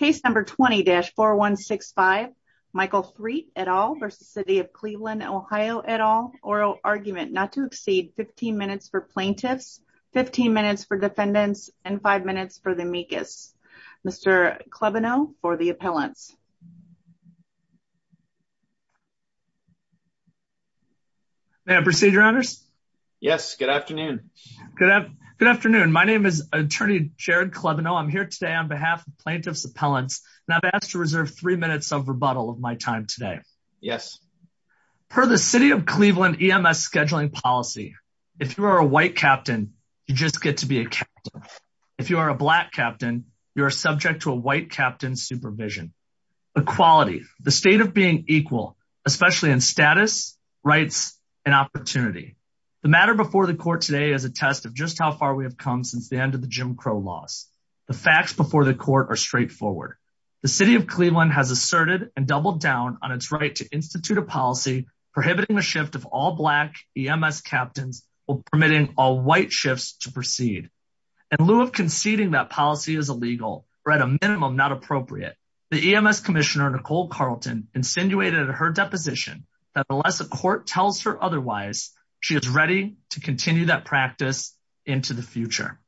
20-4165 Michael Threat et al v. City of Cleveland OH et al oral argument not to exceed 15 minutes for plaintiffs, 15 minutes for defendants and 5 minutes for the amicus. Mr. Klebano for the appellants. May I proceed your honors? Yes, good afternoon. Good afternoon, my name is attorney Jared Klebano. I'm here today on behalf of plaintiff's appellants and I've asked to reserve three minutes of rebuttal of my time today. Yes. Per the City of Cleveland EMS scheduling policy, if you are a white captain, you just get to be a captain. If you are a black captain, you are subject to a white captain supervision. Equality, the state of being equal, especially in status, rights and opportunity. The matter before the court today is a test of just we have come since the end of the Jim Crow laws. The facts before the court are straightforward. The City of Cleveland has asserted and doubled down on its right to institute a policy prohibiting the shift of all black EMS captains or permitting all white shifts to proceed. In lieu of conceding that policy is illegal or at a minimum not appropriate, the EMS Commissioner Nicole Carlton insinuated at her deposition that unless a court tells her otherwise, she is ready to continue that practice into the future.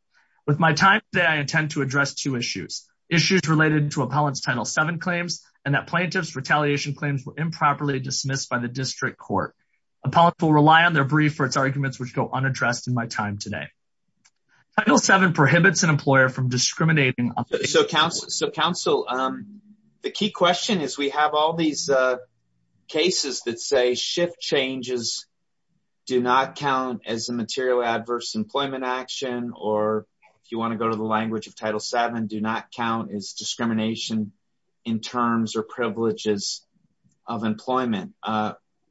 With my time today, I intend to address two issues. Issues related to appellant's Title VII claims and that plaintiff's retaliation claims were improperly dismissed by the district court. Appellants will rely on their brief for its arguments which go unaddressed in my time today. Title VII prohibits an employer from discriminating. So, counsel, the key question is we have all these cases that say shift changes do not count as a material adverse employment action or if you want to go to the language of Title VII, do not count as discrimination in terms or privileges of employment.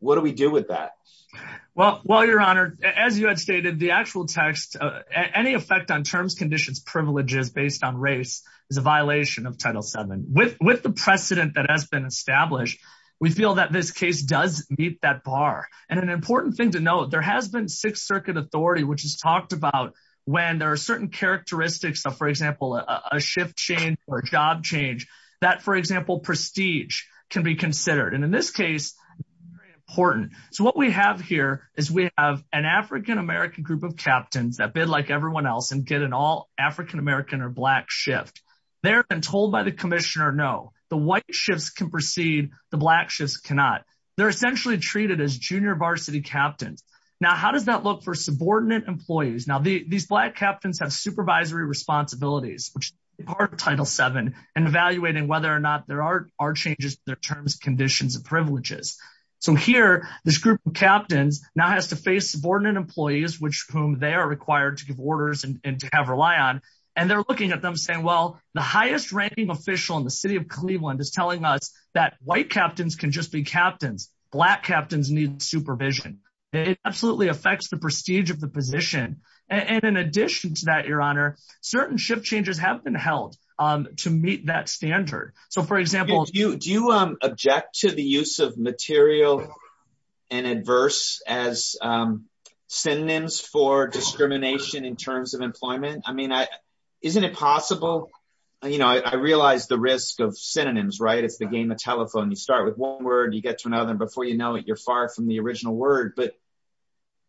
What do we do with that? Well, your honor, as you had stated, the actual text, any effect on terms, conditions, privileges based on race is a violation of Title VII. With the precedent that has been established, we feel that this case does meet that bar and an important thing to note, there has been Sixth Circuit authority which has talked about when there are certain characteristics of, for example, a shift change or a job change that, for example, prestige can be considered and in this case, very important. So, what we have here is we have an African-American group of captains that and get an all African-American or black shift. They're been told by the commissioner, no, the white shifts can proceed, the black shifts cannot. They're essentially treated as junior varsity captains. Now, how does that look for subordinate employees? Now, these black captains have supervisory responsibilities which are part of Title VII and evaluating whether or not there are changes to their terms, conditions, and privileges. So, here, this group of captains now has to face subordinate employees which whom they are required to give orders and to have rely on and they're looking at them saying, well, the highest ranking official in the city of Cleveland is telling us that white captains can just be captains. Black captains need supervision. It absolutely affects the prestige of the position and in addition to that, your honor, certain shift changes have been held to meet that standard. So, for example, do you object to the use of material and adverse as synonyms for discrimination in terms of employment? I mean, isn't it possible, you know, I realize the risk of synonyms, right? It's the game of telephone. You start with one word, you get to another and before you know it, you're far from the original word but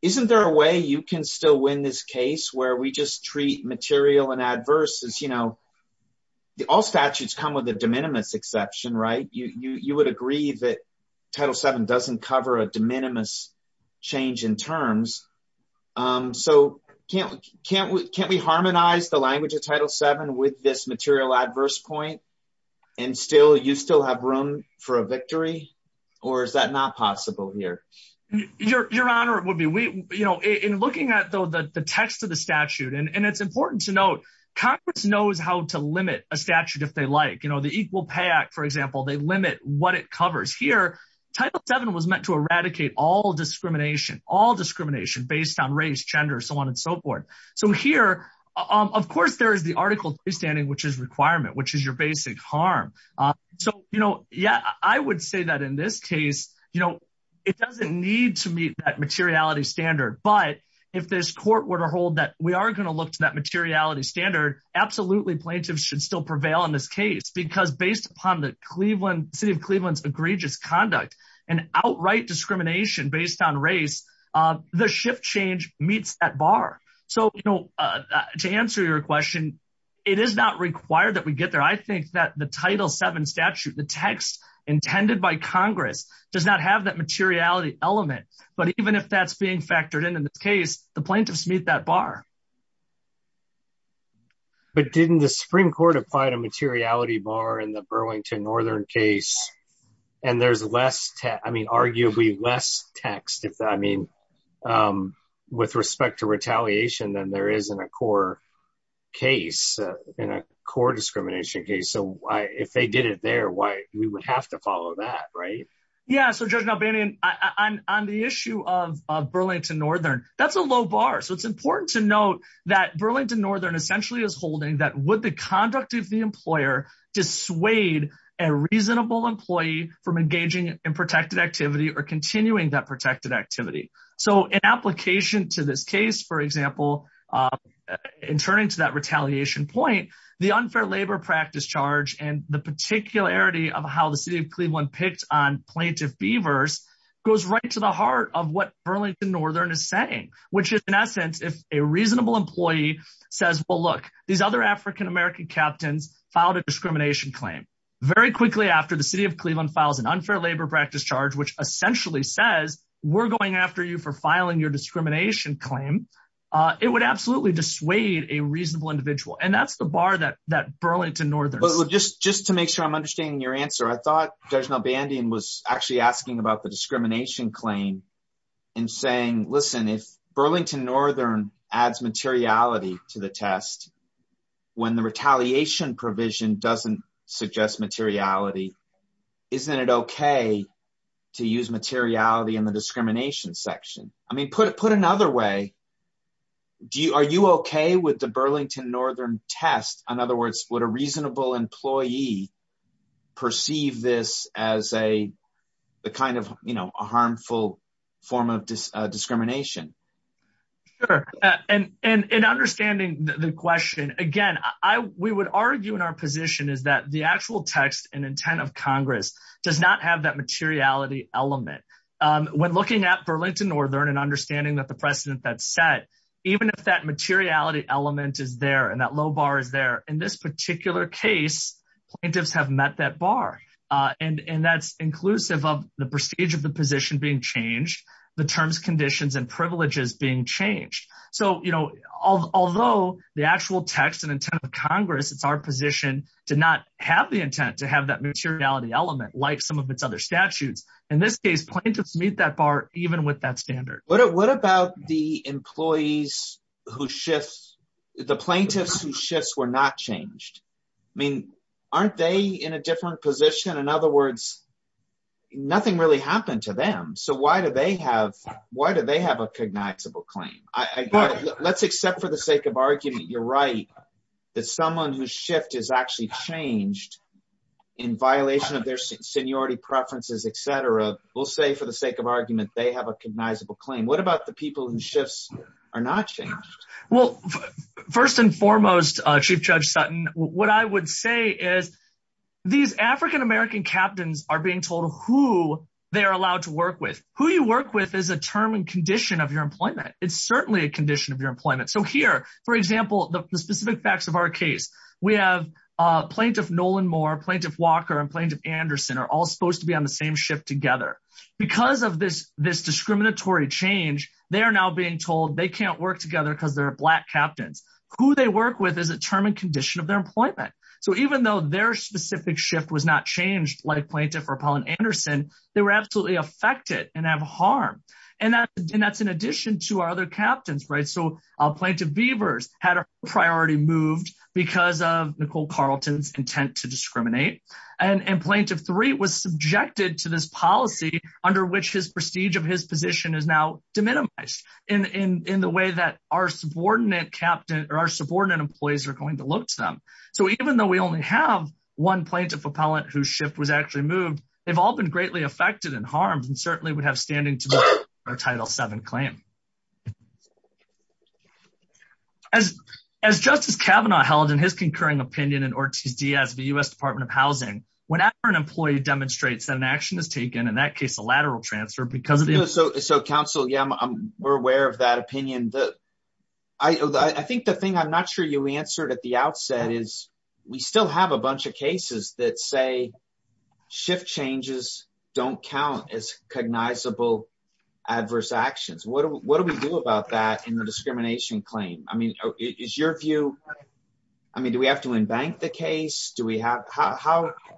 isn't there a way you can still win this case where we just treat material and adverse as, you know, all statutes come with a de minimis exception, right? You would agree that Title VII doesn't cover a de minimis change in terms. So, can't we harmonize the language of Title VII with this material adverse point and you still have room for a victory or is that not possible here? Your honor, in looking at the text of the statute and it's important to note, Congress knows how to limit a statute if they like. You know, the Equal Pay Act, for example, they limit what it covers. Here, Title VII was meant to eradicate all discrimination, all discrimination based on race, gender, so on and so forth. So, here, of course, there is the Article 3 standing which is requirement, which is your basic harm. So, you know, yeah, I would say that in this case, you know, it doesn't need to meet that materiality standard but if this court were to hold that we are going to look to that materiality standard, absolutely plaintiffs should still prevail in this case because based upon the city of Cleveland's egregious conduct and outright discrimination based on race, the shift change meets that bar. So, you know, to answer your question, it is not required that we get there. I think that the Title VII statute, the text intended by Congress does not have that materiality element but even if that's being factored in in this case, the plaintiffs meet that bar. But didn't the Supreme Court apply to materiality bar in the Burlington Northern case and there's less, I mean, arguably less text if, I mean, with respect to retaliation than there is in a core case, in a core discrimination case. So, if they did it there, why we would have to follow that, right? Yeah, so Judge Nalbany, on the issue of Burlington Northern, that's a low bar. So, it's important to note that Burlington Northern essentially is holding that would the conduct of the employer dissuade a reasonable employee from engaging in protected activity or continuing that protected activity. So, in application to this case, for example, in turning to that retaliation point, the unfair labor practice charge and the particularity of how the city of Cleveland picked on plaintiff beavers goes right to the heart of what Burlington Northern is saying, which is, in essence, if a reasonable employee says, well, look, these other African-American captains filed a discrimination claim very quickly after the city of Cleveland files an unfair labor practice charge, which essentially says we're going after you for filing your discrimination claim, it would absolutely dissuade a reasonable individual and that's the bar that Burlington Northern. Just to make sure I'm understanding your answer, I thought Judge Nalbany was actually asking about the discrimination claim and saying, listen, if Burlington Northern adds materiality to the test when the retaliation provision doesn't suggest materiality, isn't it okay to use materiality in the discrimination section? I mean, put another way, are you okay with the Burlington Northern test? In other words, would a reasonable employee perceive this as a harmful form of discrimination? Sure, and in understanding the question, again, we would argue in our position is that the actual text and intent of Congress does not have that materiality element. When looking at Burlington Northern and understanding that the precedent that's set, even if that materiality element is there and that low bar is there, in this particular case, plaintiffs have met that bar and that's inclusive of the prestige of the position being changed, the terms, conditions, and privileges being changed. Although the actual text and intent of Congress, it's our position to not have the intent to have that materiality element like some of its other statutes, in this case, plaintiffs meet that bar even with that standard. What about the plaintiffs whose shifts were not changed? I mean, aren't they in a different position? In other words, nothing really happened to them, so why do they have a cognizable claim? Let's accept for the sake of argument, you're right, that someone whose shift is actually changed in violation of their seniority preferences, et cetera, we'll say for the sake of what about the people whose shifts are not changed? Well, first and foremost, Chief Judge Sutton, what I would say is these African-American captains are being told who they're allowed to work with. Who you work with is a term and condition of your employment. It's certainly a condition of your employment. So here, for example, the specific facts of our case, we have plaintiff Nolan Moore, plaintiff Walker, and plaintiff Anderson are all supposed to be on same shift together. Because of this discriminatory change, they are now being told they can't work together because they're Black captains. Who they work with is a term and condition of their employment. So even though their specific shift was not changed, like plaintiff Rapal and Anderson, they were absolutely affected and have harm. And that's in addition to our other captains, right? So plaintiff Beavers had a priority moved because of Nicole Carlton's intent to this policy under which his prestige of his position is now deminimized in the way that our subordinate employees are going to look to them. So even though we only have one plaintiff appellant whose shift was actually moved, they've all been greatly affected and harmed and certainly would have standing to our Title VII claim. As Justice Kavanaugh held in his concurring opinion as the U.S. Department of Housing, whenever an employee demonstrates that an action is taken, in that case, a lateral transfer because of... So counsel, yeah, we're aware of that opinion. I think the thing I'm not sure you answered at the outset is we still have a bunch of cases that say shift changes don't count as cognizable adverse actions. What do we do about that in the case?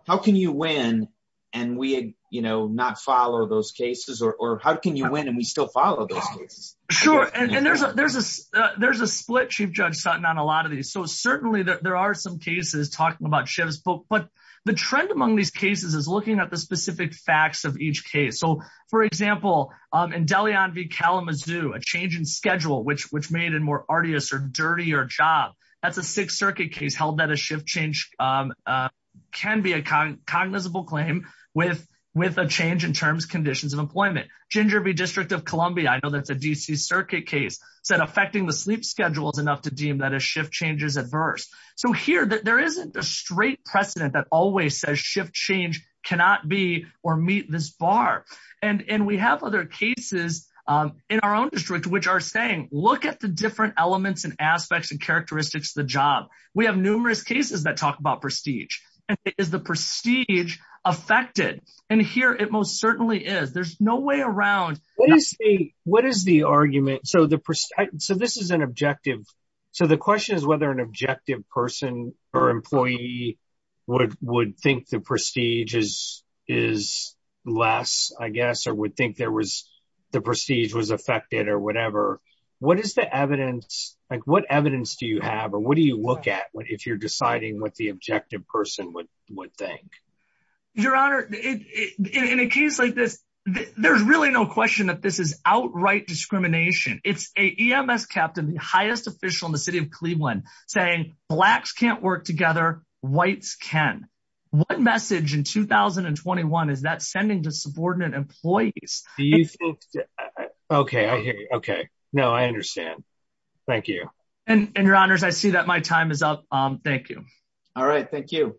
How can you win and we not follow those cases or how can you win and we still follow those cases? Sure. And there's a split Chief Judge Sutton on a lot of these. So certainly there are some cases talking about shifts, but the trend among these cases is looking at the specific facts of each case. So for example, in Deleon v. Kalamazoo, a change in schedule, which made it more arduous or dirty or job, that's a Sixth Circuit case held that a shift change can be a cognizable claim with a change in terms, conditions of employment. Ginger v. District of Columbia, I know that's a D.C. Circuit case, said affecting the sleep schedule is enough to deem that a shift change is adverse. So here, there isn't a straight precedent that always says shift change cannot be or meet this bar. And we have other cases in our own district, which are look at the different elements and aspects and characteristics of the job. We have numerous cases that talk about prestige. Is the prestige affected? And here it most certainly is. There's no way around. What is the argument? So this is an objective. So the question is whether an objective person or employee would think the prestige is less, I guess, or would think there the prestige was affected or whatever. What is the evidence? Like, what evidence do you have? Or what do you look at if you're deciding what the objective person would think? Your Honor, in a case like this, there's really no question that this is outright discrimination. It's a EMS captain, the highest official in the city of Cleveland, saying blacks can't work together, whites can. What message in 2021 is that sending to subordinate employees? Do you think? Okay, I hear you. Okay. No, I understand. Thank you. And Your Honors, I see that my time is up. Thank you. All right. Thank you.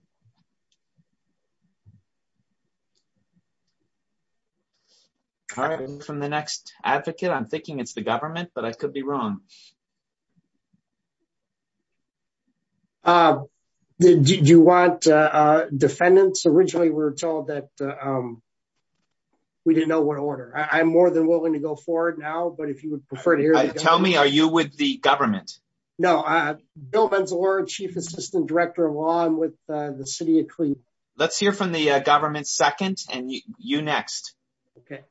From the next advocate, I'm thinking it's the government, but I could be wrong. Did you want defendants? Originally, we were told that we didn't know what order. I'm more than willing to go forward now. But if you would prefer to hear it, tell me, are you with the government? No, Bill Benzelor, Chief Assistant Director of Law with the city of Cleveland. Let's hear from the government second and you next. Okay.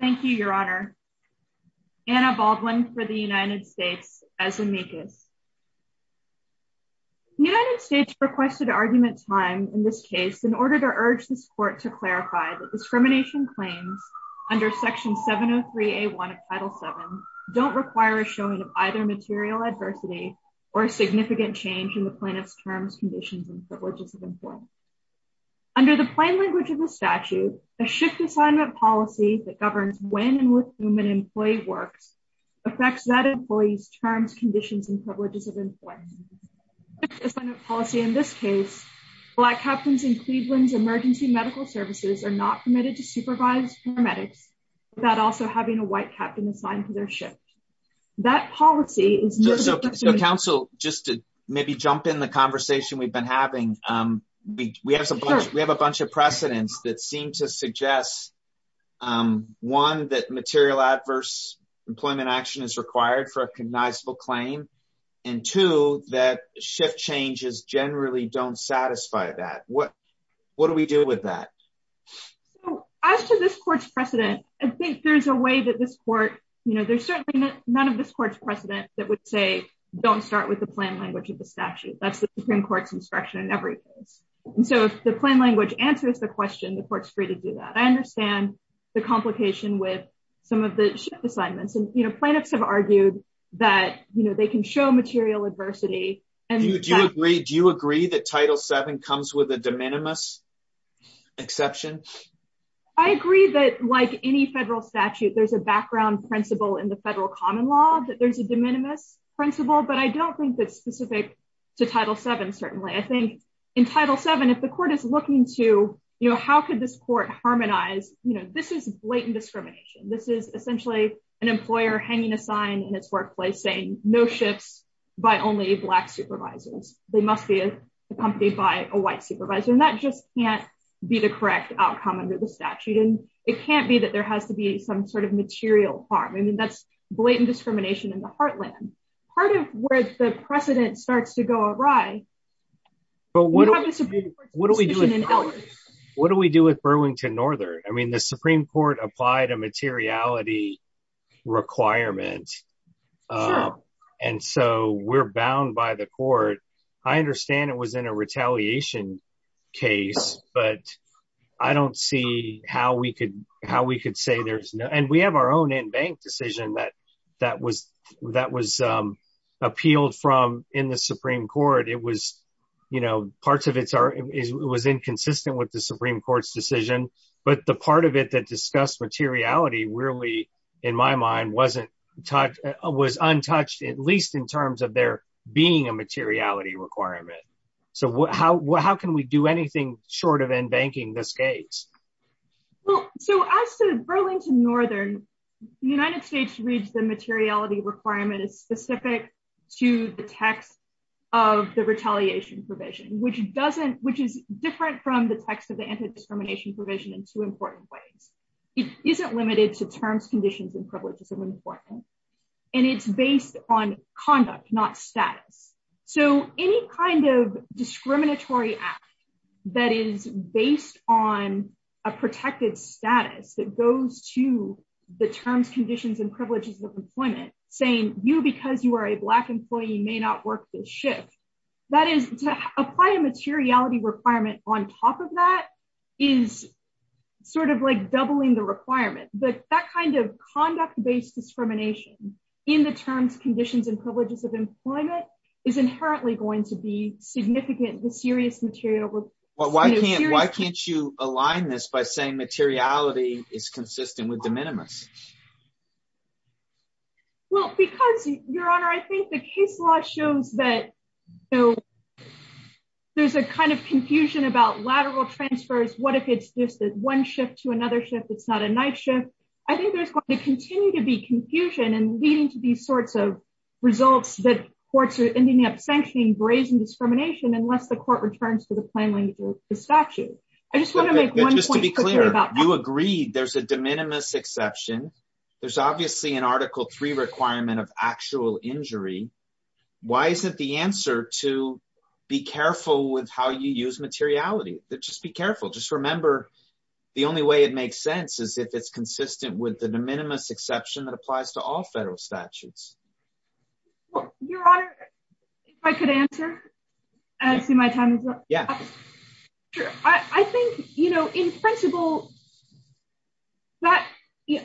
Thank you, Your Honor. Anna Baldwin for the United States as amicus. United States requested argument time in this case in order to urge this court to clarify that discrimination claims under Section 703A1 of Title VII don't require a showing of either material adversity or significant change in the plaintiff's terms, conditions, and privileges of employment. Under the plain language of the statute, a shift assignment policy that governs when and with whom an employee works affects that employee's terms, conditions, and privileges of employment. In this case, black captains in Cleveland's emergency medical services are not permitted to supervise paramedics without also having a white captain assigned to their shift. That policy is... So counsel, just to maybe jump in the conversation we've been having, we have a bunch of precedents that seem to suggest, one, that material adverse employment action is required for a cognizable claim, and two, that shift changes generally don't satisfy that. What do we do with that? As to this court's precedent, I think there's a way that this court, there's certainly none of this court's precedent that would say, don't start with the plain language of the statute. That's the Supreme Court's instruction in every case. So if the plain language answers the question, the court's free to do that. I understand the complication with some of the shift assignments, and plaintiffs have argued that they can show material adversity. Do you agree that Title VII comes with a de minimis exception? I agree that like any federal statute, there's a background principle in the federal common law that there's a de minimis principle, but I don't think that's specific to Title VII, certainly. I think in Title VII, if the court is looking to how could this court harmonize, this is blatant discrimination. This is essentially an employer hanging a sign in its workplace saying no shifts by only black supervisors. They must be accompanied by a white supervisor, and that just can't be the outcome under the statute. It can't be that there has to be some sort of material harm. I mean, that's blatant discrimination in the heartland. Part of where the precedent starts to go awry... What do we do with Burlington Northern? I mean, the Supreme Court applied a materiality requirement, and so we're bound by the court. I understand it was in a retaliation case, but I don't see how we could say there's no... And we have our own in-bank decision that was appealed from in the Supreme Court. It was inconsistent with the Supreme Court's decision, but the part of it that discussed materiality really, in my mind, was untouched, at least in So how can we do anything short of in-banking this case? Well, so as to Burlington Northern, the United States reads the materiality requirement as specific to the text of the retaliation provision, which is different from the text of the anti-discrimination provision in two important ways. It isn't limited to terms, conditions, and privileges of employment, and it's based on conduct, not status. So any kind of discriminatory act that is based on a protected status that goes to the terms, conditions, and privileges of employment, saying you, because you are a Black employee, may not work this shift, that is to apply a materiality requirement on top of that is sort of like doubling the requirement. But that conduct-based discrimination in the terms, conditions, and privileges of employment is inherently going to be significant, the serious material. Why can't you align this by saying materiality is consistent with de minimis? Well, because, Your Honor, I think the case law shows that there's a kind of confusion about lateral transfers. What if it's just one shift to continue to be confusion and leading to these sorts of results that courts are ending up sanctioning brazen discrimination unless the court returns to the plain language of the statute? I just want to make one point. Just to be clear, you agreed there's a de minimis exception. There's obviously an Article III requirement of actual injury. Why isn't the answer to be careful with how you use materiality? Just be careful. Just remember, the only way it makes sense is if it's consistent with the de minimis exception that applies to all federal statutes. Your Honor, if I could answer, I see my time is up. I think, in principle,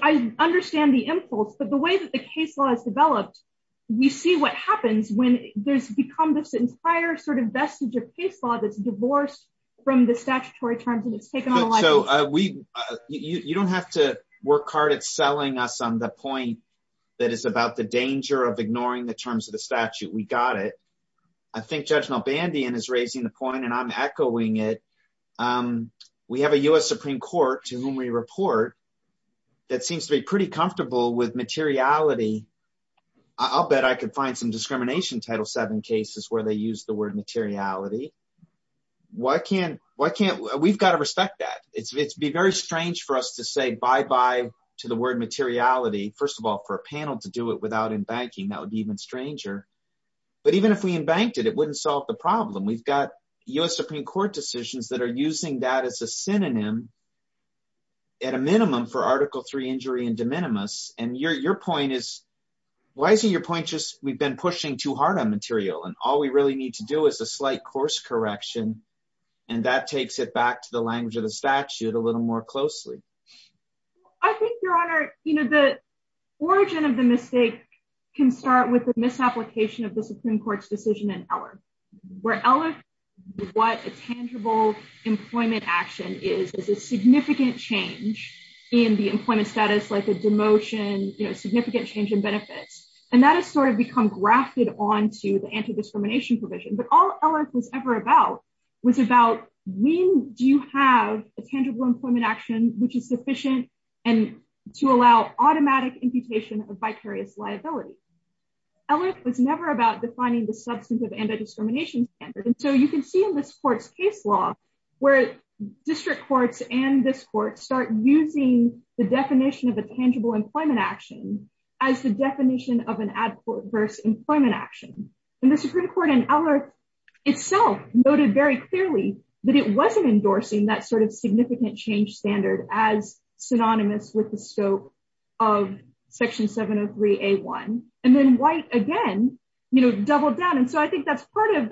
I understand the impulse, but the way that the case law is developed, we see what happens when there's become this entire sort of vestige of case law that's divorced from the statutory terms and it's taken on a life of its own. You don't have to work hard at selling us on the point that it's about the danger of ignoring the terms of the statute. We got it. I think Judge Nalbandian is raising the point, and I'm echoing it. We have a U.S. Supreme Court to whom we report that seems to be pretty comfortable with materiality. I'll bet I could find some discrimination Title VII cases where they use the word materiality. We've got to respect that. It'd be very strange for us to say bye-bye to the word materiality, first of all, for a panel to do it without embanking. That would be even stranger. But even if we embanked it, it wouldn't solve the problem. We've got U.S. Supreme Court decisions that are using that as a synonym at a minimum for Article III injury and de minimis. Your point is, why isn't your point we've been pushing too hard on material, and all we really need to do is a slight course correction, and that takes it back to the language of the statute a little more closely. I think, Your Honor, the origin of the mistake can start with the misapplication of the Supreme Court's decision in Eller, where Eller, what a tangible employment action is, is a significant change in the employment status, like a demotion, a significant change in benefits. And that has sort of become grafted onto the anti-discrimination provision. But all Eller was ever about was about when do you have a tangible employment action which is sufficient and to allow automatic imputation of vicarious liability. Eller was never about defining the substantive anti-discrimination standard. And so you can see in this court's case law, where district courts and this court start using the definition of a tangible employment action as the definition of an adverse employment action. And the Supreme Court in Eller itself noted very clearly that it wasn't endorsing that sort of significant change standard as synonymous with the scope of Section 703A1. And then White again, you know, doubled down. And so I think that's part of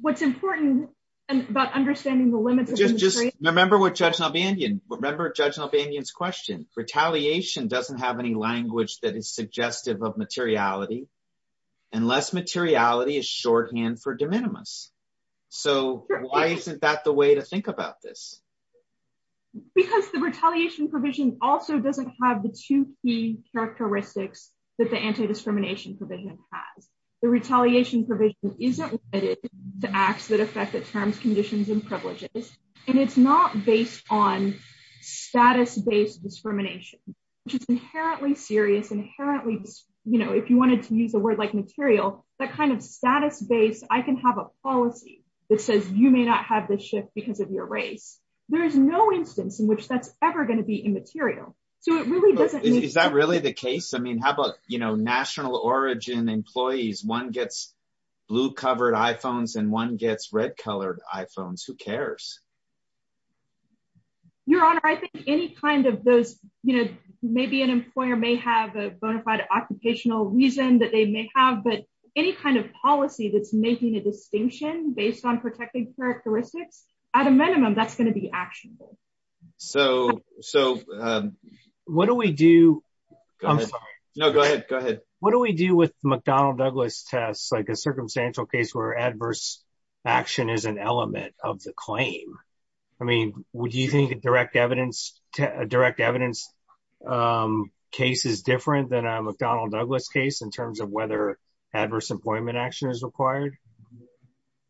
what's important about understanding the limits. Just remember what Judge Nalbanyan, remember Judge Nalbanyan's question. Retaliation doesn't have any language that is suggestive of materiality, unless materiality is shorthand for de minimis. So why isn't that the way to think about this? Because the retaliation provision also doesn't have the two key characteristics that the anti-discrimination provision has. The retaliation provision isn't limited to acts that affect the terms, conditions, and privileges. And it's not based on status-based discrimination, which is inherently serious, inherently, you know, if you wanted to use a word like material, that kind of status-based, I can have a policy that says you may not have this shift because of your race. There is no instance in which that's ever going to be immaterial. So it really doesn't... Is that really the case? I mean, how about, you know, national origin employees, one gets blue-covered iPhones and one gets red-colored iPhones. Who cares? Your Honor, I think any kind of those, you know, maybe an employer may have a bona fide occupational reason that they may have, but any kind of policy that's making a distinction based on protecting characteristics, at a minimum, that's going to be actionable. So what do we do? I'm sorry. No, go ahead. Go ahead. What do we do with McDonnell-Douglas tests, like a circumstantial case where adverse action is an element of the claim? I mean, would you think a direct evidence case is different than a McDonnell-Douglas case in terms of whether adverse employment action is required?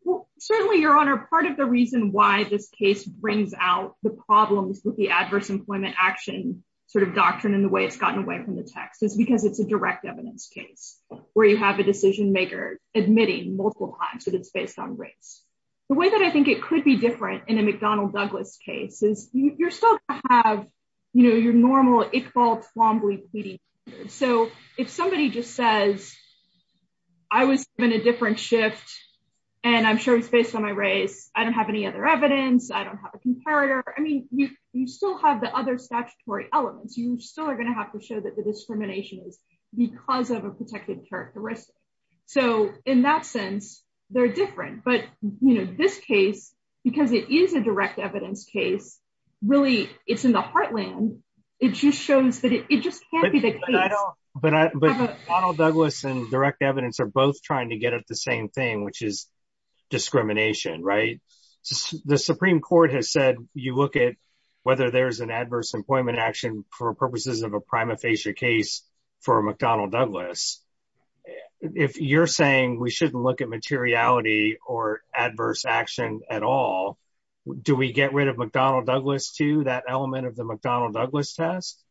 Well, certainly, Your Honor, part of the reason why this case brings out the problems with the adverse employment action sort of doctrine and the way it's gotten away from the text is because it's a direct evidence case where you have a decision-maker admitting multiple times that it's based on race. The way that I think it could be different in a McDonnell-Douglas case is you're still going to have, you know, your normal Iqbal Twombly pleading. So if somebody just says, I was given a different shift and I'm sure it's based on my race, I don't have any other evidence, I don't have a comparator. I mean, you still have the other statutory elements. You still are going have to show that the discrimination is because of a protected characteristic. So in that sense, they're different. But, you know, this case, because it is a direct evidence case, really, it's in the heartland. It just shows that it just can't be the case. But McDonnell-Douglas and direct evidence are both trying to get at the same thing, which is discrimination, right? The Supreme Court has said you look at whether there's an adverse employment action for purposes of a prima facie case for McDonnell-Douglas. If you're saying we shouldn't look at materiality or adverse action at all, do we get rid of McDonnell-Douglas too, that element of the McDonnell-Douglas test?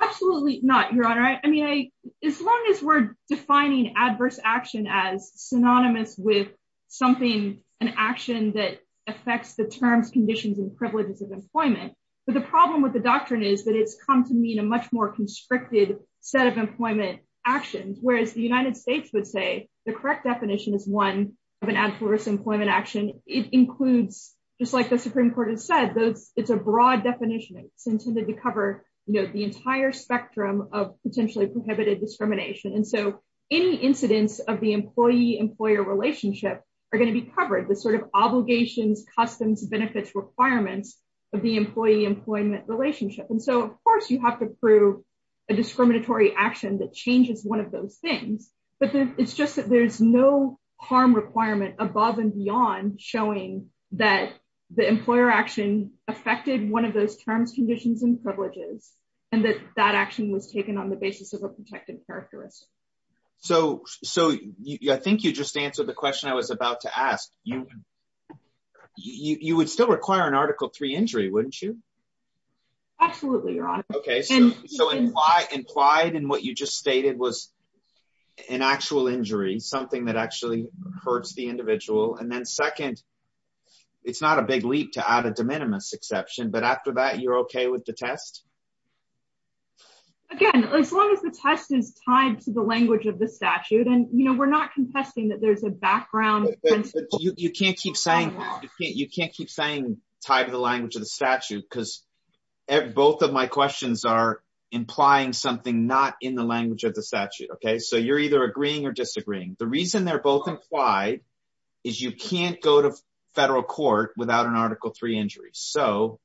Absolutely not, Your Honor. I mean, as long as we're defining adverse action as synonymous with something, an action that affects the terms, conditions, and privileges of employment. But the problem with the doctrine is that it's come to mean a much more constricted set of employment actions, whereas the United States would say the correct definition is one of an adverse employment action. It includes, just like the Supreme Court has said, it's a broad definition. It's intended to cover, you know, the entire spectrum of potentially prohibited discrimination. And so any incidents of the employee-employer relationship are going to be covered. The sort of obligations, customs, benefits, requirements of the employee-employment relationship. And so, of course, you have to prove a discriminatory action that changes one of those things. But it's just that there's no harm requirement above and beyond showing that the employer action affected one of those terms, conditions, and privileges, and that that action was taken on the basis of a protected characteristic. So I think you just answered the question that I was about to ask. You would still require an Article III injury, wouldn't you? Absolutely, Your Honor. Okay. So implied in what you just stated was an actual injury, something that actually hurts the individual. And then second, it's not a big leap to add a de minimis exception, but after that, you're okay with the test? Again, as long as the test is tied to the language of the statute. And, you know, we're not contesting that there's a background principle. You can't keep saying tied to the language of the statute because both of my questions are implying something not in the language of the statute, okay? So you're either agreeing or disagreeing. The reason they're both implied is you can't go to federal court without an Article III injury. So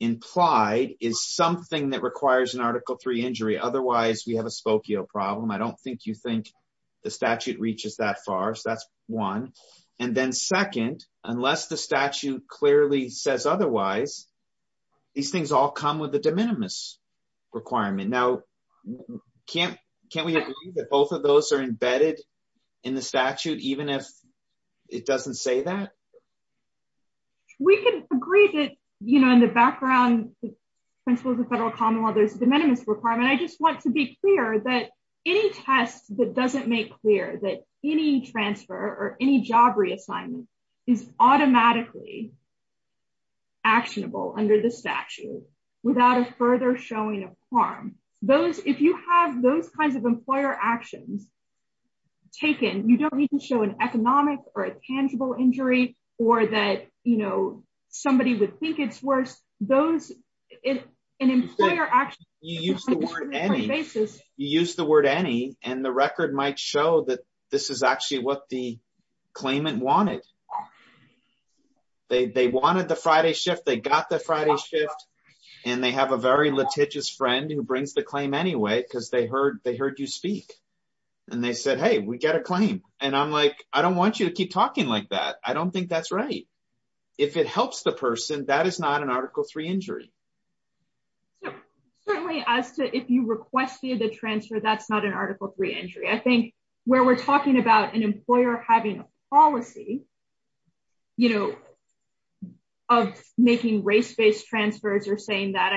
implied is something that requires an Article III injury. Otherwise, we have a the statute reaches that far. So that's one. And then second, unless the statute clearly says otherwise, these things all come with the de minimis requirement. Now, can't we agree that both of those are embedded in the statute, even if it doesn't say that? We can agree that, you know, in the background, principles of the federal commonwealth, I just want to be clear that any test that doesn't make clear that any transfer or any job reassignment is automatically actionable under the statute without a further showing of harm. If you have those kinds of employer actions taken, you don't need to show an economic or you use the word any basis, you use the word any and the record might show that this is actually what the claimant wanted. They wanted the Friday shift, they got the Friday shift. And they have a very litigious friend who brings the claim anyway, because they heard they heard you speak. And they said, Hey, we get a claim. And I'm like, I don't want you to keep talking like that. I don't think that's right. If it helps the person that is not an Article III injury. If you requested the transfer, that's not an Article III injury. I think where we're talking about an employer having a policy, you know, of making race based transfers or saying that,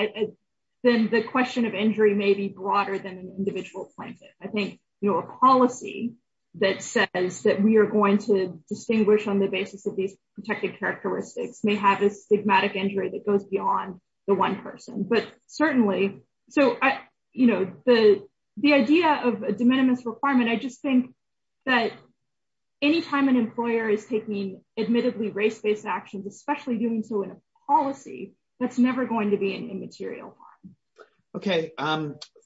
then the question of injury may be broader than an individual plaintiff. I think, you know, a policy that says that we are going to distinguish on the basis of these protected characteristics may have a stigmatic injury that goes beyond the one person. But certainly, so I, you know, the, the idea of a de minimis requirement, I just think that anytime an employer is taking admittedly race based actions, especially doing so in a policy, that's never going to be an immaterial. Okay.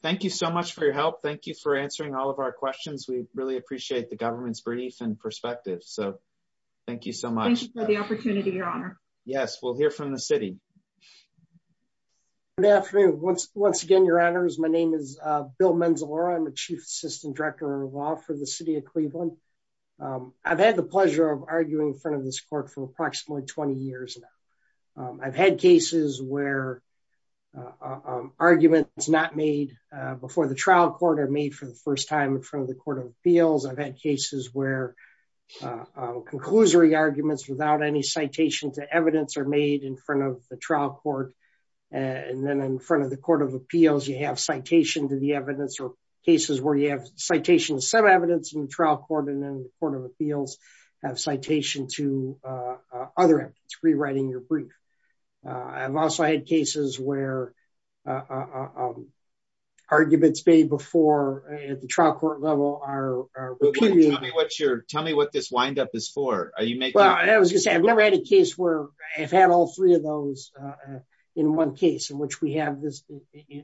Thank you so much for your help. Thank you for answering all of our questions. We really appreciate the government's brief and perspective. So thank you so much for the opportunity, Your Honor. Yes, we'll hear from the city. Good afternoon. Once again, Your Honors, my name is Bill Manzalora. I'm the Chief Assistant Director of Law for the City of Cleveland. I've had the pleasure of arguing in front of this court for approximately 20 years now. I've had cases where arguments not made before the trial court are made for the first time in front of the Court of Appeals. I've had cases where conclusory arguments without any citation to evidence are made in front of the trial court. And then in front of the Court of Appeals, you have citation to the evidence or cases where you have citations, some evidence in the trial court and then the Court of Appeals have citation to other rewriting your brief. I've also had cases where arguments made before at the trial court level are repeated. Tell me what this wind up is for. I've never had a case where I've had all three of those in one case in which we have this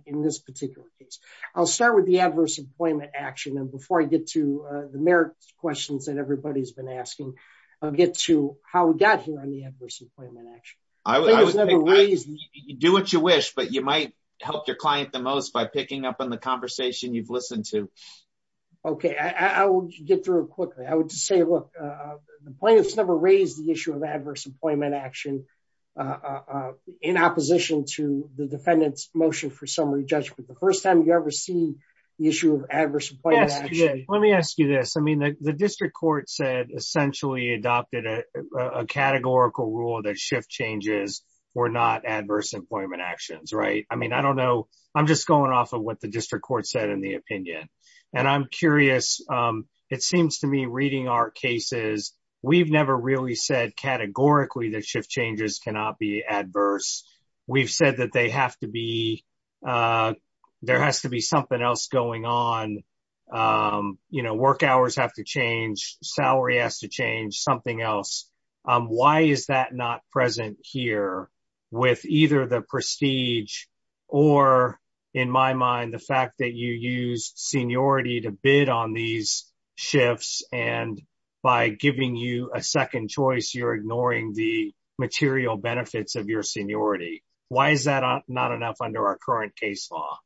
in this particular case. I'll start with the adverse employment action. And before I get to the merit questions that everybody's been asking, I'll get to how we got here on the adverse employment action. Do what you wish, but you might help your client the most by picking up on the conversation you've had. The plaintiffs never raised the issue of adverse employment action in opposition to the defendant's motion for summary judgment. The first time you ever see the issue of adverse employment action. Let me ask you this. I mean, the district court said essentially adopted a categorical rule that shift changes were not adverse employment actions, right? I mean, I don't know. I'm just going off of what the district court said in the reading our cases. We've never really said categorically that shift changes cannot be adverse. We've said that there has to be something else going on. Work hours have to change, salary has to change, something else. Why is that not present here with either the prestige or in my mind, the fact that you use seniority to bid on these shifts and by giving you a second choice, you're ignoring the material benefits of your seniority. Why is that not enough under our current case law?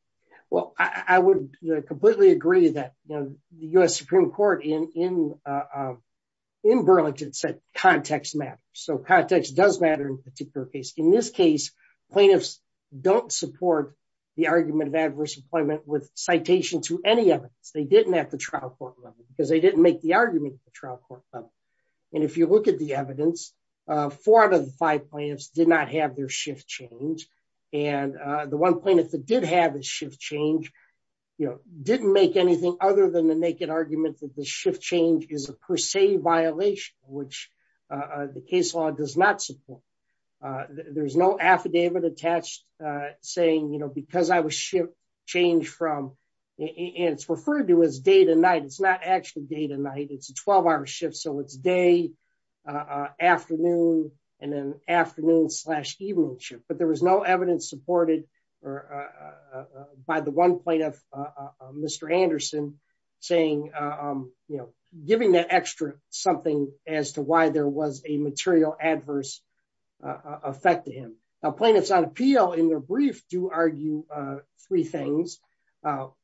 Well, I would completely agree that the U.S. Supreme Court in Burlington said context matters. So context does matter in a particular case. In this case, plaintiffs don't support the argument of adverse employment with citation to any evidence. They didn't at the trial court level because they didn't make the argument at the trial court level. And if you look at the evidence, four out of the five plaintiffs did not have their shift change. And the one plaintiff that did have a shift change, you know, didn't make anything other than the naked argument that shift change is a per se violation, which the case law does not support. There's no affidavit attached saying, you know, because I was shift changed from, it's referred to as day to night. It's not actually day to night. It's a 12 hour shift. So it's day, afternoon, and then afternoon slash evening shift. But there was no evidence supported by the one plaintiff, Mr. Anderson, saying, you know, giving that extra something as to why there was a material adverse effect to him. Now, plaintiffs on appeal in their brief do argue three things.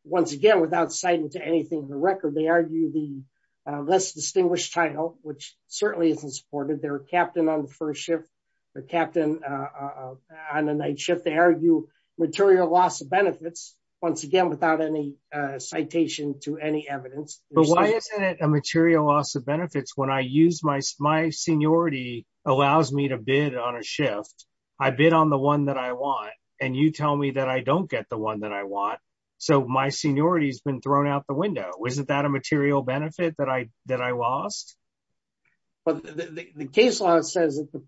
Once again, without citing to anything in the record, they argue the less distinguished title, which certainly isn't supported, their captain on the first shift, their captain on the night shift, they argue material loss of benefits, once again, without any citation to any evidence. But why isn't it a material loss of benefits when I use my seniority allows me to bid on a shift, I bid on the one that I want, and you tell me that I don't get the one that I want. So my seniority has been thrown out the window. Isn't that a material benefit that I lost? But the case law says that the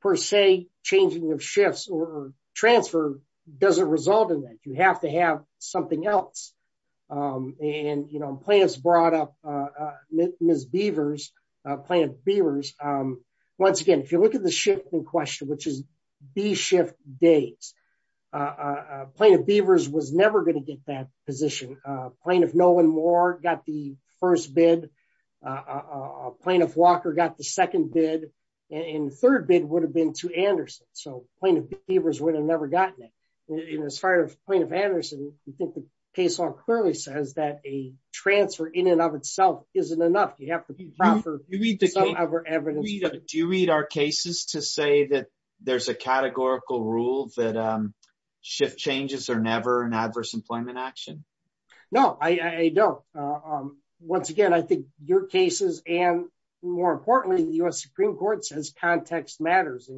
per se changing of shifts or transfer doesn't result in that you have to have something else. And you know, plaintiffs brought up Ms. Beavers, plaintiff Beavers. Once again, if you look at the shift in question, which is B shift days, plaintiff Beavers was never going to get that position. Plaintiff Nolan Moore got the first bid. Plaintiff Walker got the second bid. And third bid would have been to Anderson. So plaintiff Beavers would have never gotten it. As far as plaintiff Anderson, you think the case law clearly says that a transfer in and of itself isn't enough, you have to be proper evidence. Do you read our cases to say that there's a categorical rule that shift changes are never an adverse employment action? No, I don't. Once again, I think your cases and more importantly, the US Supreme Court says context matters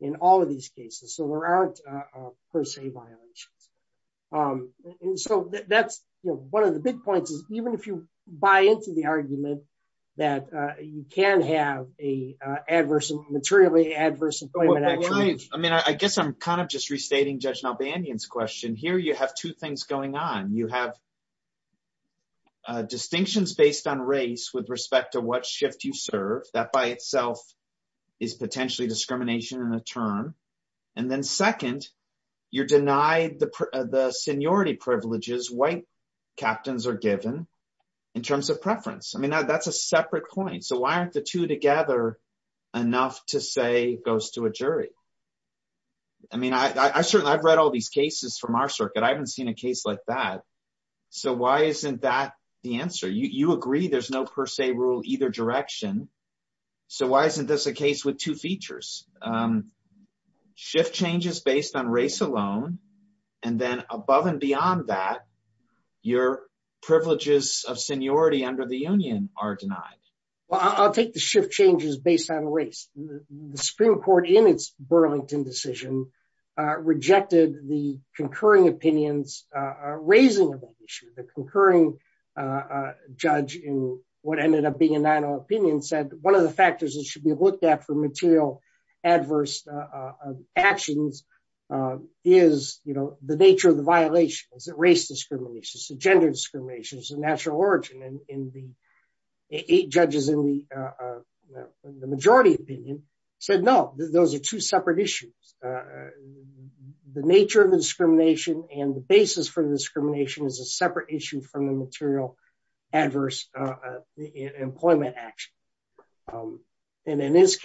in all of these cases. So there aren't per se violations. And so that's one of the big points is even if you buy into the argument that you can have a adverse, materially adverse employment. I mean, I guess I'm kind of just restating Judge Nalbandian's question. Here you have two things going on. You have distinctions based on race with respect to what shift you serve that by itself is potentially discrimination in a term. And then second, you're denied the seniority privileges white captains are given in terms of preference. I the two together enough to say goes to a jury. I mean, I certainly I've read all these cases from our circuit. I haven't seen a case like that. So why isn't that the answer? You agree, there's no per se rule either direction. So why isn't this a case with two features? Shift changes based on race alone. And then above and beyond that, your privileges of seniority the union are denied? Well, I'll take the shift changes based on race. The Supreme Court in its Burlington decision, rejected the concurring opinions, raising the concurring judge in what ended up being a nine or opinion said one of the factors that should be looked at for material adverse actions is, you know, the nature of the violations that race discrimination, gender discrimination is a natural origin in the eight judges in the majority opinion, said no, those are two separate issues. The nature of the discrimination and the basis for the discrimination is a separate issue from the material adverse employment action. And in this back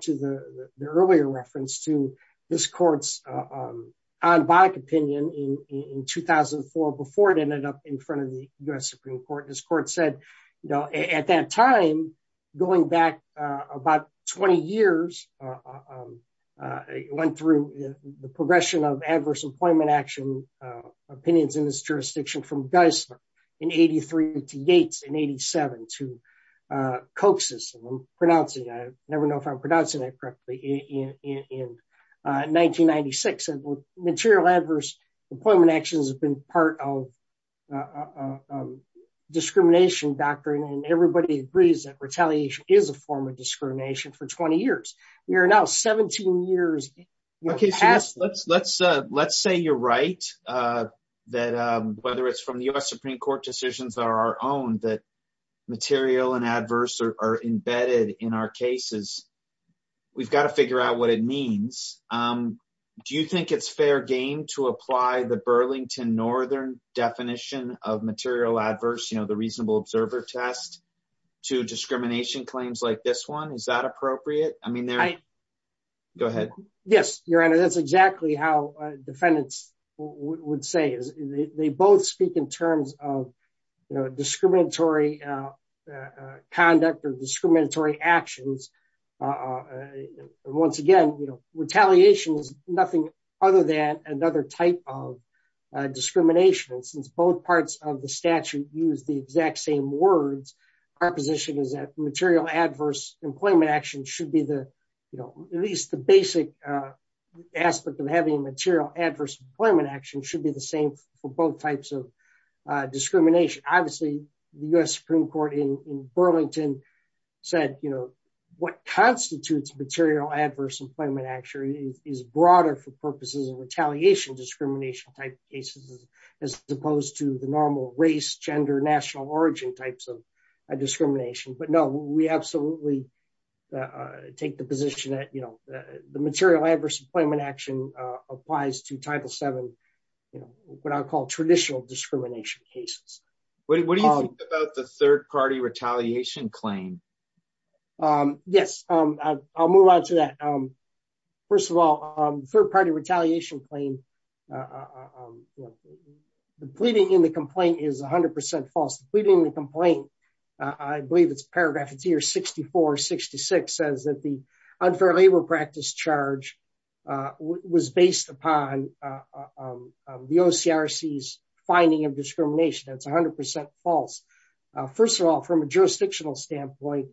to the earlier reference to this court's on back opinion in 2004, before it ended up in front of the US Supreme Court, this court said, you know, at that time, going back about 20 years, went through the progression of adverse employment action, opinions in this jurisdiction from guys in 83 to Yates in 87 to coaxes, and I'm pronouncing I never know if I'm pronouncing it correctly in 1996. And material adverse employment actions have been part of discrimination doctrine. And everybody agrees that retaliation is a form of discrimination for 20 years. We are now 17 years. Okay, so let's, let's, let's say you're right, that whether it's from the US Supreme Court decisions are our own that material and adverse are embedded in our cases, we've got to figure out what it means. Do you think it's fair game to apply the Burlington Northern definition of material adverse, you know, the reasonable observer test to discrimination claims like this one? Is that appropriate? I mean, they're go ahead. Yes, Your Honor, that's exactly how defendants would say is they both speak in terms of, you know, discriminatory conduct or discriminatory actions. Once again, you know, retaliation is nothing other than another type of discrimination. And since both parts of the statute use the exact same words, our position is that material adverse employment action should be you know, at least the basic aspect of having material adverse employment action should be the same for both types of discrimination. Obviously, the US Supreme Court in Burlington said, you know, what constitutes material adverse employment action is broader for purposes of retaliation discrimination type cases, as opposed to the normal race, gender, national origin types of discrimination. But no, we absolutely take the position that you know, the material adverse employment action applies to Title Seven, you know, what I call traditional discrimination cases. What do you think about the third party retaliation claim? Yes, I'll move on to that. First of all, third party retaliation claim. The pleading in the complaint is 100% false. The pleading in the complaint, I believe it's paragraph here 6466 says that the unfair labor practice charge was based upon the OCRC's finding of discrimination. That's 100% false. First of all, from a jurisdictional standpoint,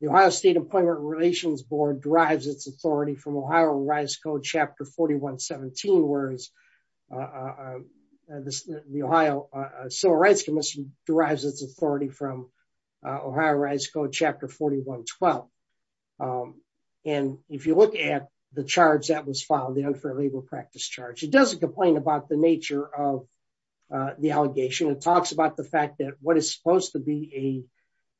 the Ohio State Employment Relations Board derives its authority from Ohio Rise Code Chapter 4117, whereas the Ohio Civil Rights Commission derives its authority from Ohio Rise Code Chapter 4112. And if you look at the charge that was filed, the unfair labor practice charge, it doesn't complain about the nature of the allegation, it talks about the fact that what is supposed to be a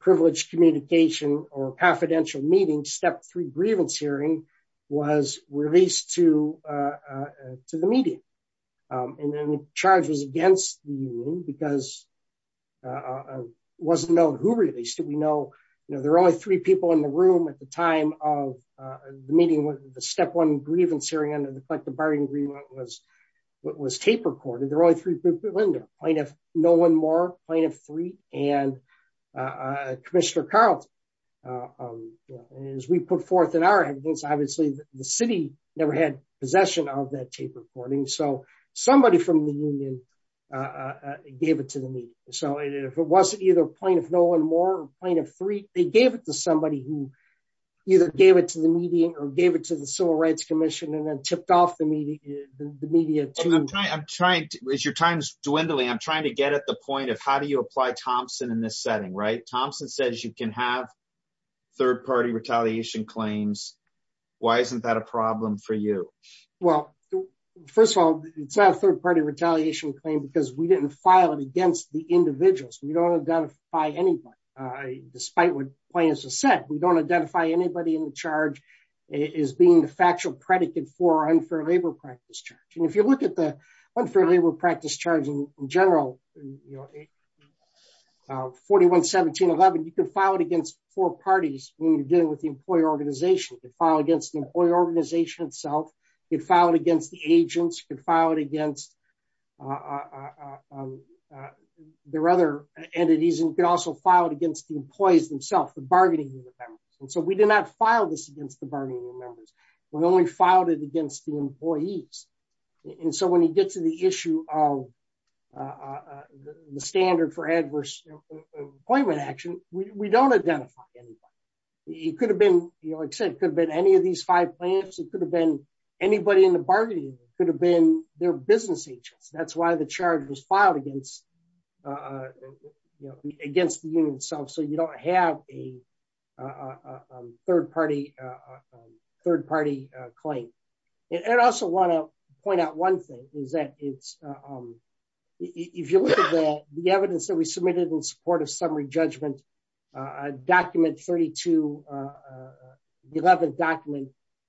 privileged communication or confidential meeting, step three grievance hearing was released to the media. And then the charge was against the union because it wasn't known who released it. We know, you know, there are only three people in the room at the time of the meeting with the step one grievance hearing under the collective bargaining agreement was tape recorded. There are only three people in there, plaintiff Nolan Moore, plaintiff Freit, and Commissioner Carlton. As we put forth in our headings, obviously, the city never had possession of that tape recording. So somebody from the union gave it to the media. So if it wasn't either plaintiff Nolan Moore or plaintiff Freit, they gave it to somebody who either gave it to the media or gave it to the Civil Rights Commission and then tipped off the media, the media I'm trying to, as your time's dwindling, I'm trying to get at the point of how do you apply Thompson in this setting, right? Thompson says you can have third party retaliation claims. Why isn't that a problem for you? Well, first of all, it's not a third party retaliation claim, because we didn't file it against the individuals. We don't identify anybody. Despite what plaintiffs have said, we don't identify anybody in the charge as being the factual predicate for unfair labor practice charge. And if you look at the unfair labor practice charge in general, you know, 41-17-11, you can file it against four parties when you're dealing with the employer organization, you can file against the employer organization itself, you can file it against the agents, you can file it against their other entities, and you can also file it against the employees themselves, the bargaining members. And so we did not file this against the bargaining members. We only filed it against the employees. And so when you get to the issue of the standard for adverse employment action, we don't identify anybody. It could have been, like I said, it could have been any of these five plaintiffs, it could have been anybody in the bargaining, it could have been their business agents. That's why the charge was claimed. And I also want to point out one thing is that it's, if you look at the evidence that we submitted in support of summary judgment, document 32-11 document,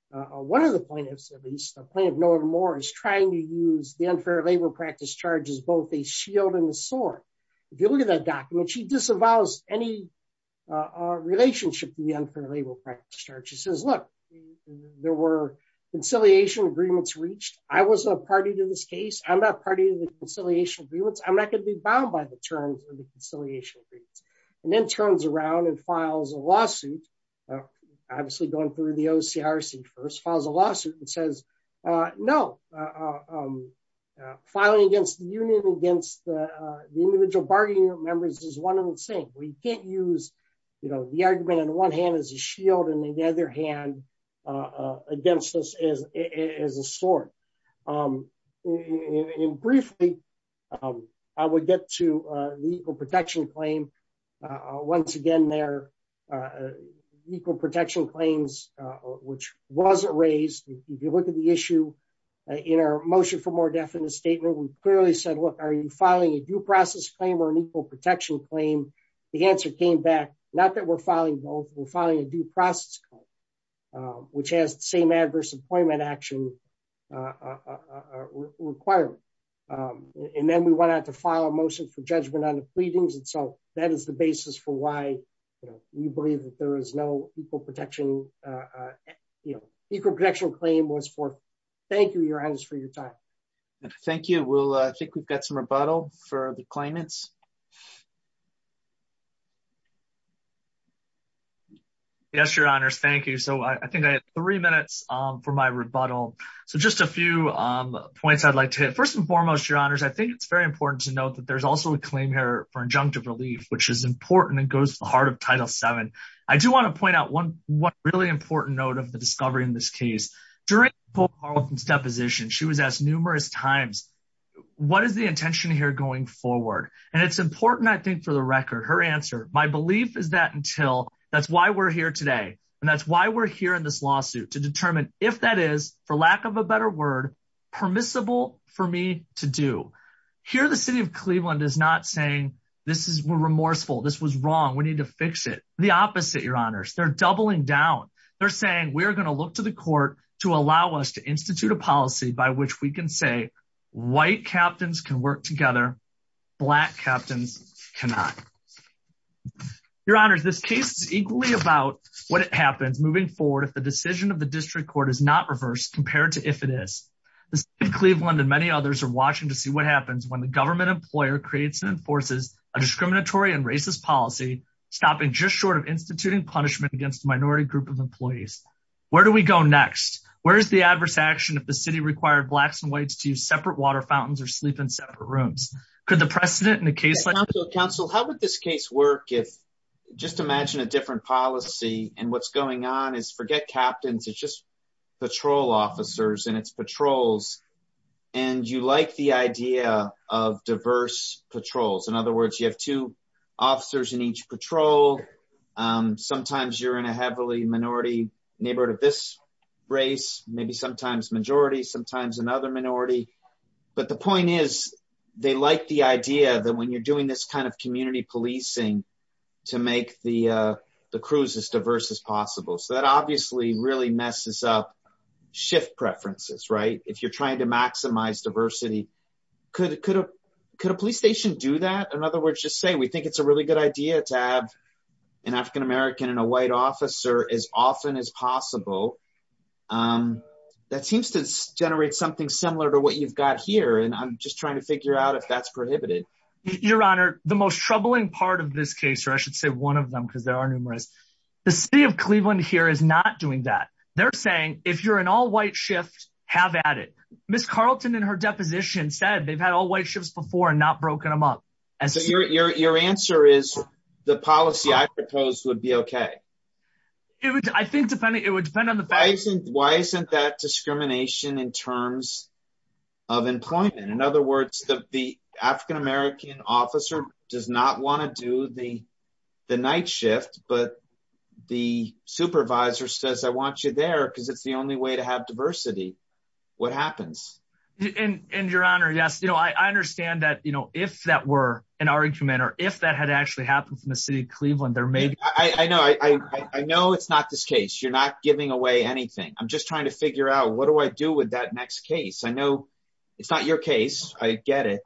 one of the plaintiffs, at least the plaintiff, Nora Moore, is trying to use the unfair labor practice charge as both a shield and a sword. If you look at that document, she disavows any relationship to the unfair labor charge. She says, look, there were conciliation agreements reached. I was a party to this case. I'm not party to the conciliation agreements. I'm not going to be bound by the terms of the conciliation agreements. And then turns around and files a lawsuit, obviously going through the OCRC first, files a lawsuit and says, no, filing against the union, against the individual bargaining members is one and the same. We can't use, you know, the argument on one hand as a shield and the other hand against us as a sword. And briefly, I would get to the equal protection claim. Once again, their equal protection claims, which was raised, if you look at the issue in our motion for more definite statement, we clearly said, look, are you filing a due process claim or an equal protection claim? The answer came back, not that we're filing both, we're filing a due process claim, which has the same adverse employment action requirement. And then we went out to file a motion for judgment on the pleadings. And so that is the basis for why, you know, we believe that there is no equal protection, you know, equal protection claim was for, thank you, your honors for your time. Thank you. We'll, I think we've got some rebuttal for the claimants. Yes, your honors. Thank you. So I think I had three minutes for my rebuttal. So just a few points I'd like to hit. First and foremost, your honors, I think it's very important to note that there's also a claim here for injunctive relief, which is important and goes to the heart of title seven. I do want to point out one, one really important note of the discovery in this case. During Paul Carlton's deposition, she was asked numerous times, what is the intention here going forward? And it's important. I think for the record, her answer, my belief is that until that's why we're here today. And that's why we're here in this lawsuit to determine if that is for lack of a better word, permissible for me to do here. The city of Cleveland is not saying this is remorseful. This was wrong. We need to fix it. The opposite, your honors, they're doubling down. They're saying we're going to look to the court to allow us to institute a white captains can work together. Black captains cannot your honors. This case is equally about what happens moving forward. If the decision of the district court is not reversed compared to, if it is Cleveland and many others are watching to see what happens when the government employer creates and enforces a discriminatory and racist policy, stopping just short of instituting punishment against minority group of employees. Where do we go next? Where's the adverse action? If the city required blacks and whites to use separate water fountains or sleep in separate rooms, could the precedent in a case like council, how would this case work? If just imagine a different policy and what's going on is forget captains. It's just patrol officers and it's patrols. And you like the idea of diverse patrols. In other words, you have two officers in each patrol. Um, sometimes you're in a heavily minority neighborhood of this race, maybe sometimes majority, sometimes another minority. But the point is they like the idea that when you're doing this kind of community policing to make the, uh, the cruise as diverse as possible. So that obviously really messes up shift preferences, right? If you're trying to maximize diversity, could, could, uh, could a police station do that? In other words, just say, we think it's a really good idea to have an African-American and a white officer as often as possible. Um, that seems to generate something similar to what you've got here. And I'm just trying to figure out if that's prohibited. Your honor, the most troubling part of this case, or I should say one of them, cause there are numerous, the city of Cleveland here is not doing that. They're saying, if you're an all white shift, have added Ms. Carlton and her deposition said they've had all white shifts before and not broken them up. So your, your, your answer is the policy I propose would be okay. It would, I think depending, it would depend on the fact. Why isn't that discrimination in terms of employment? In other words, the African-American officer does not want to do the, the night shift, but the supervisor says, I want you there. Cause it's the only way to have diversity. What happens? And your honor? Yes. You know, I understand that, if that were an argument or if that had actually happened from the city of Cleveland, there may, I know, I know it's not this case. You're not giving away anything. I'm just trying to figure out what do I do with that next case? I know it's not your case. I get it,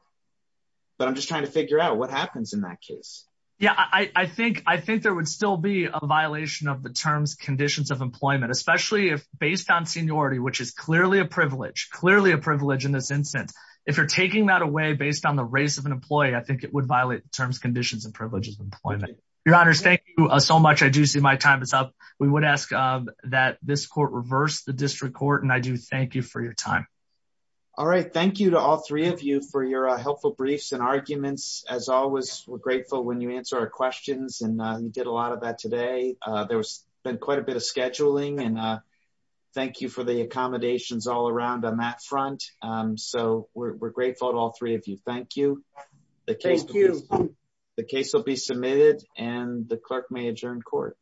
but I'm just trying to figure out what happens in that case. Yeah. I think, I think there would still be a violation of the terms, conditions of employment, especially if based on seniority, which is clearly a privilege, clearly a privilege in this instance. If you're taking that away based on the race of an employee, I think it would violate terms, conditions, and privileges of employment. Your honors, thank you so much. I do see my time is up. We would ask that this court reverse the district court. And I do thank you for your time. All right. Thank you to all three of you for your helpful briefs and arguments as always. We're grateful when you answer our questions and you did a lot of that today. There was been quite a bit of scheduling and thank you for the accommodations all around on that front. So we're grateful to all three of you. Thank you. The case will be submitted and the clerk may adjourn court.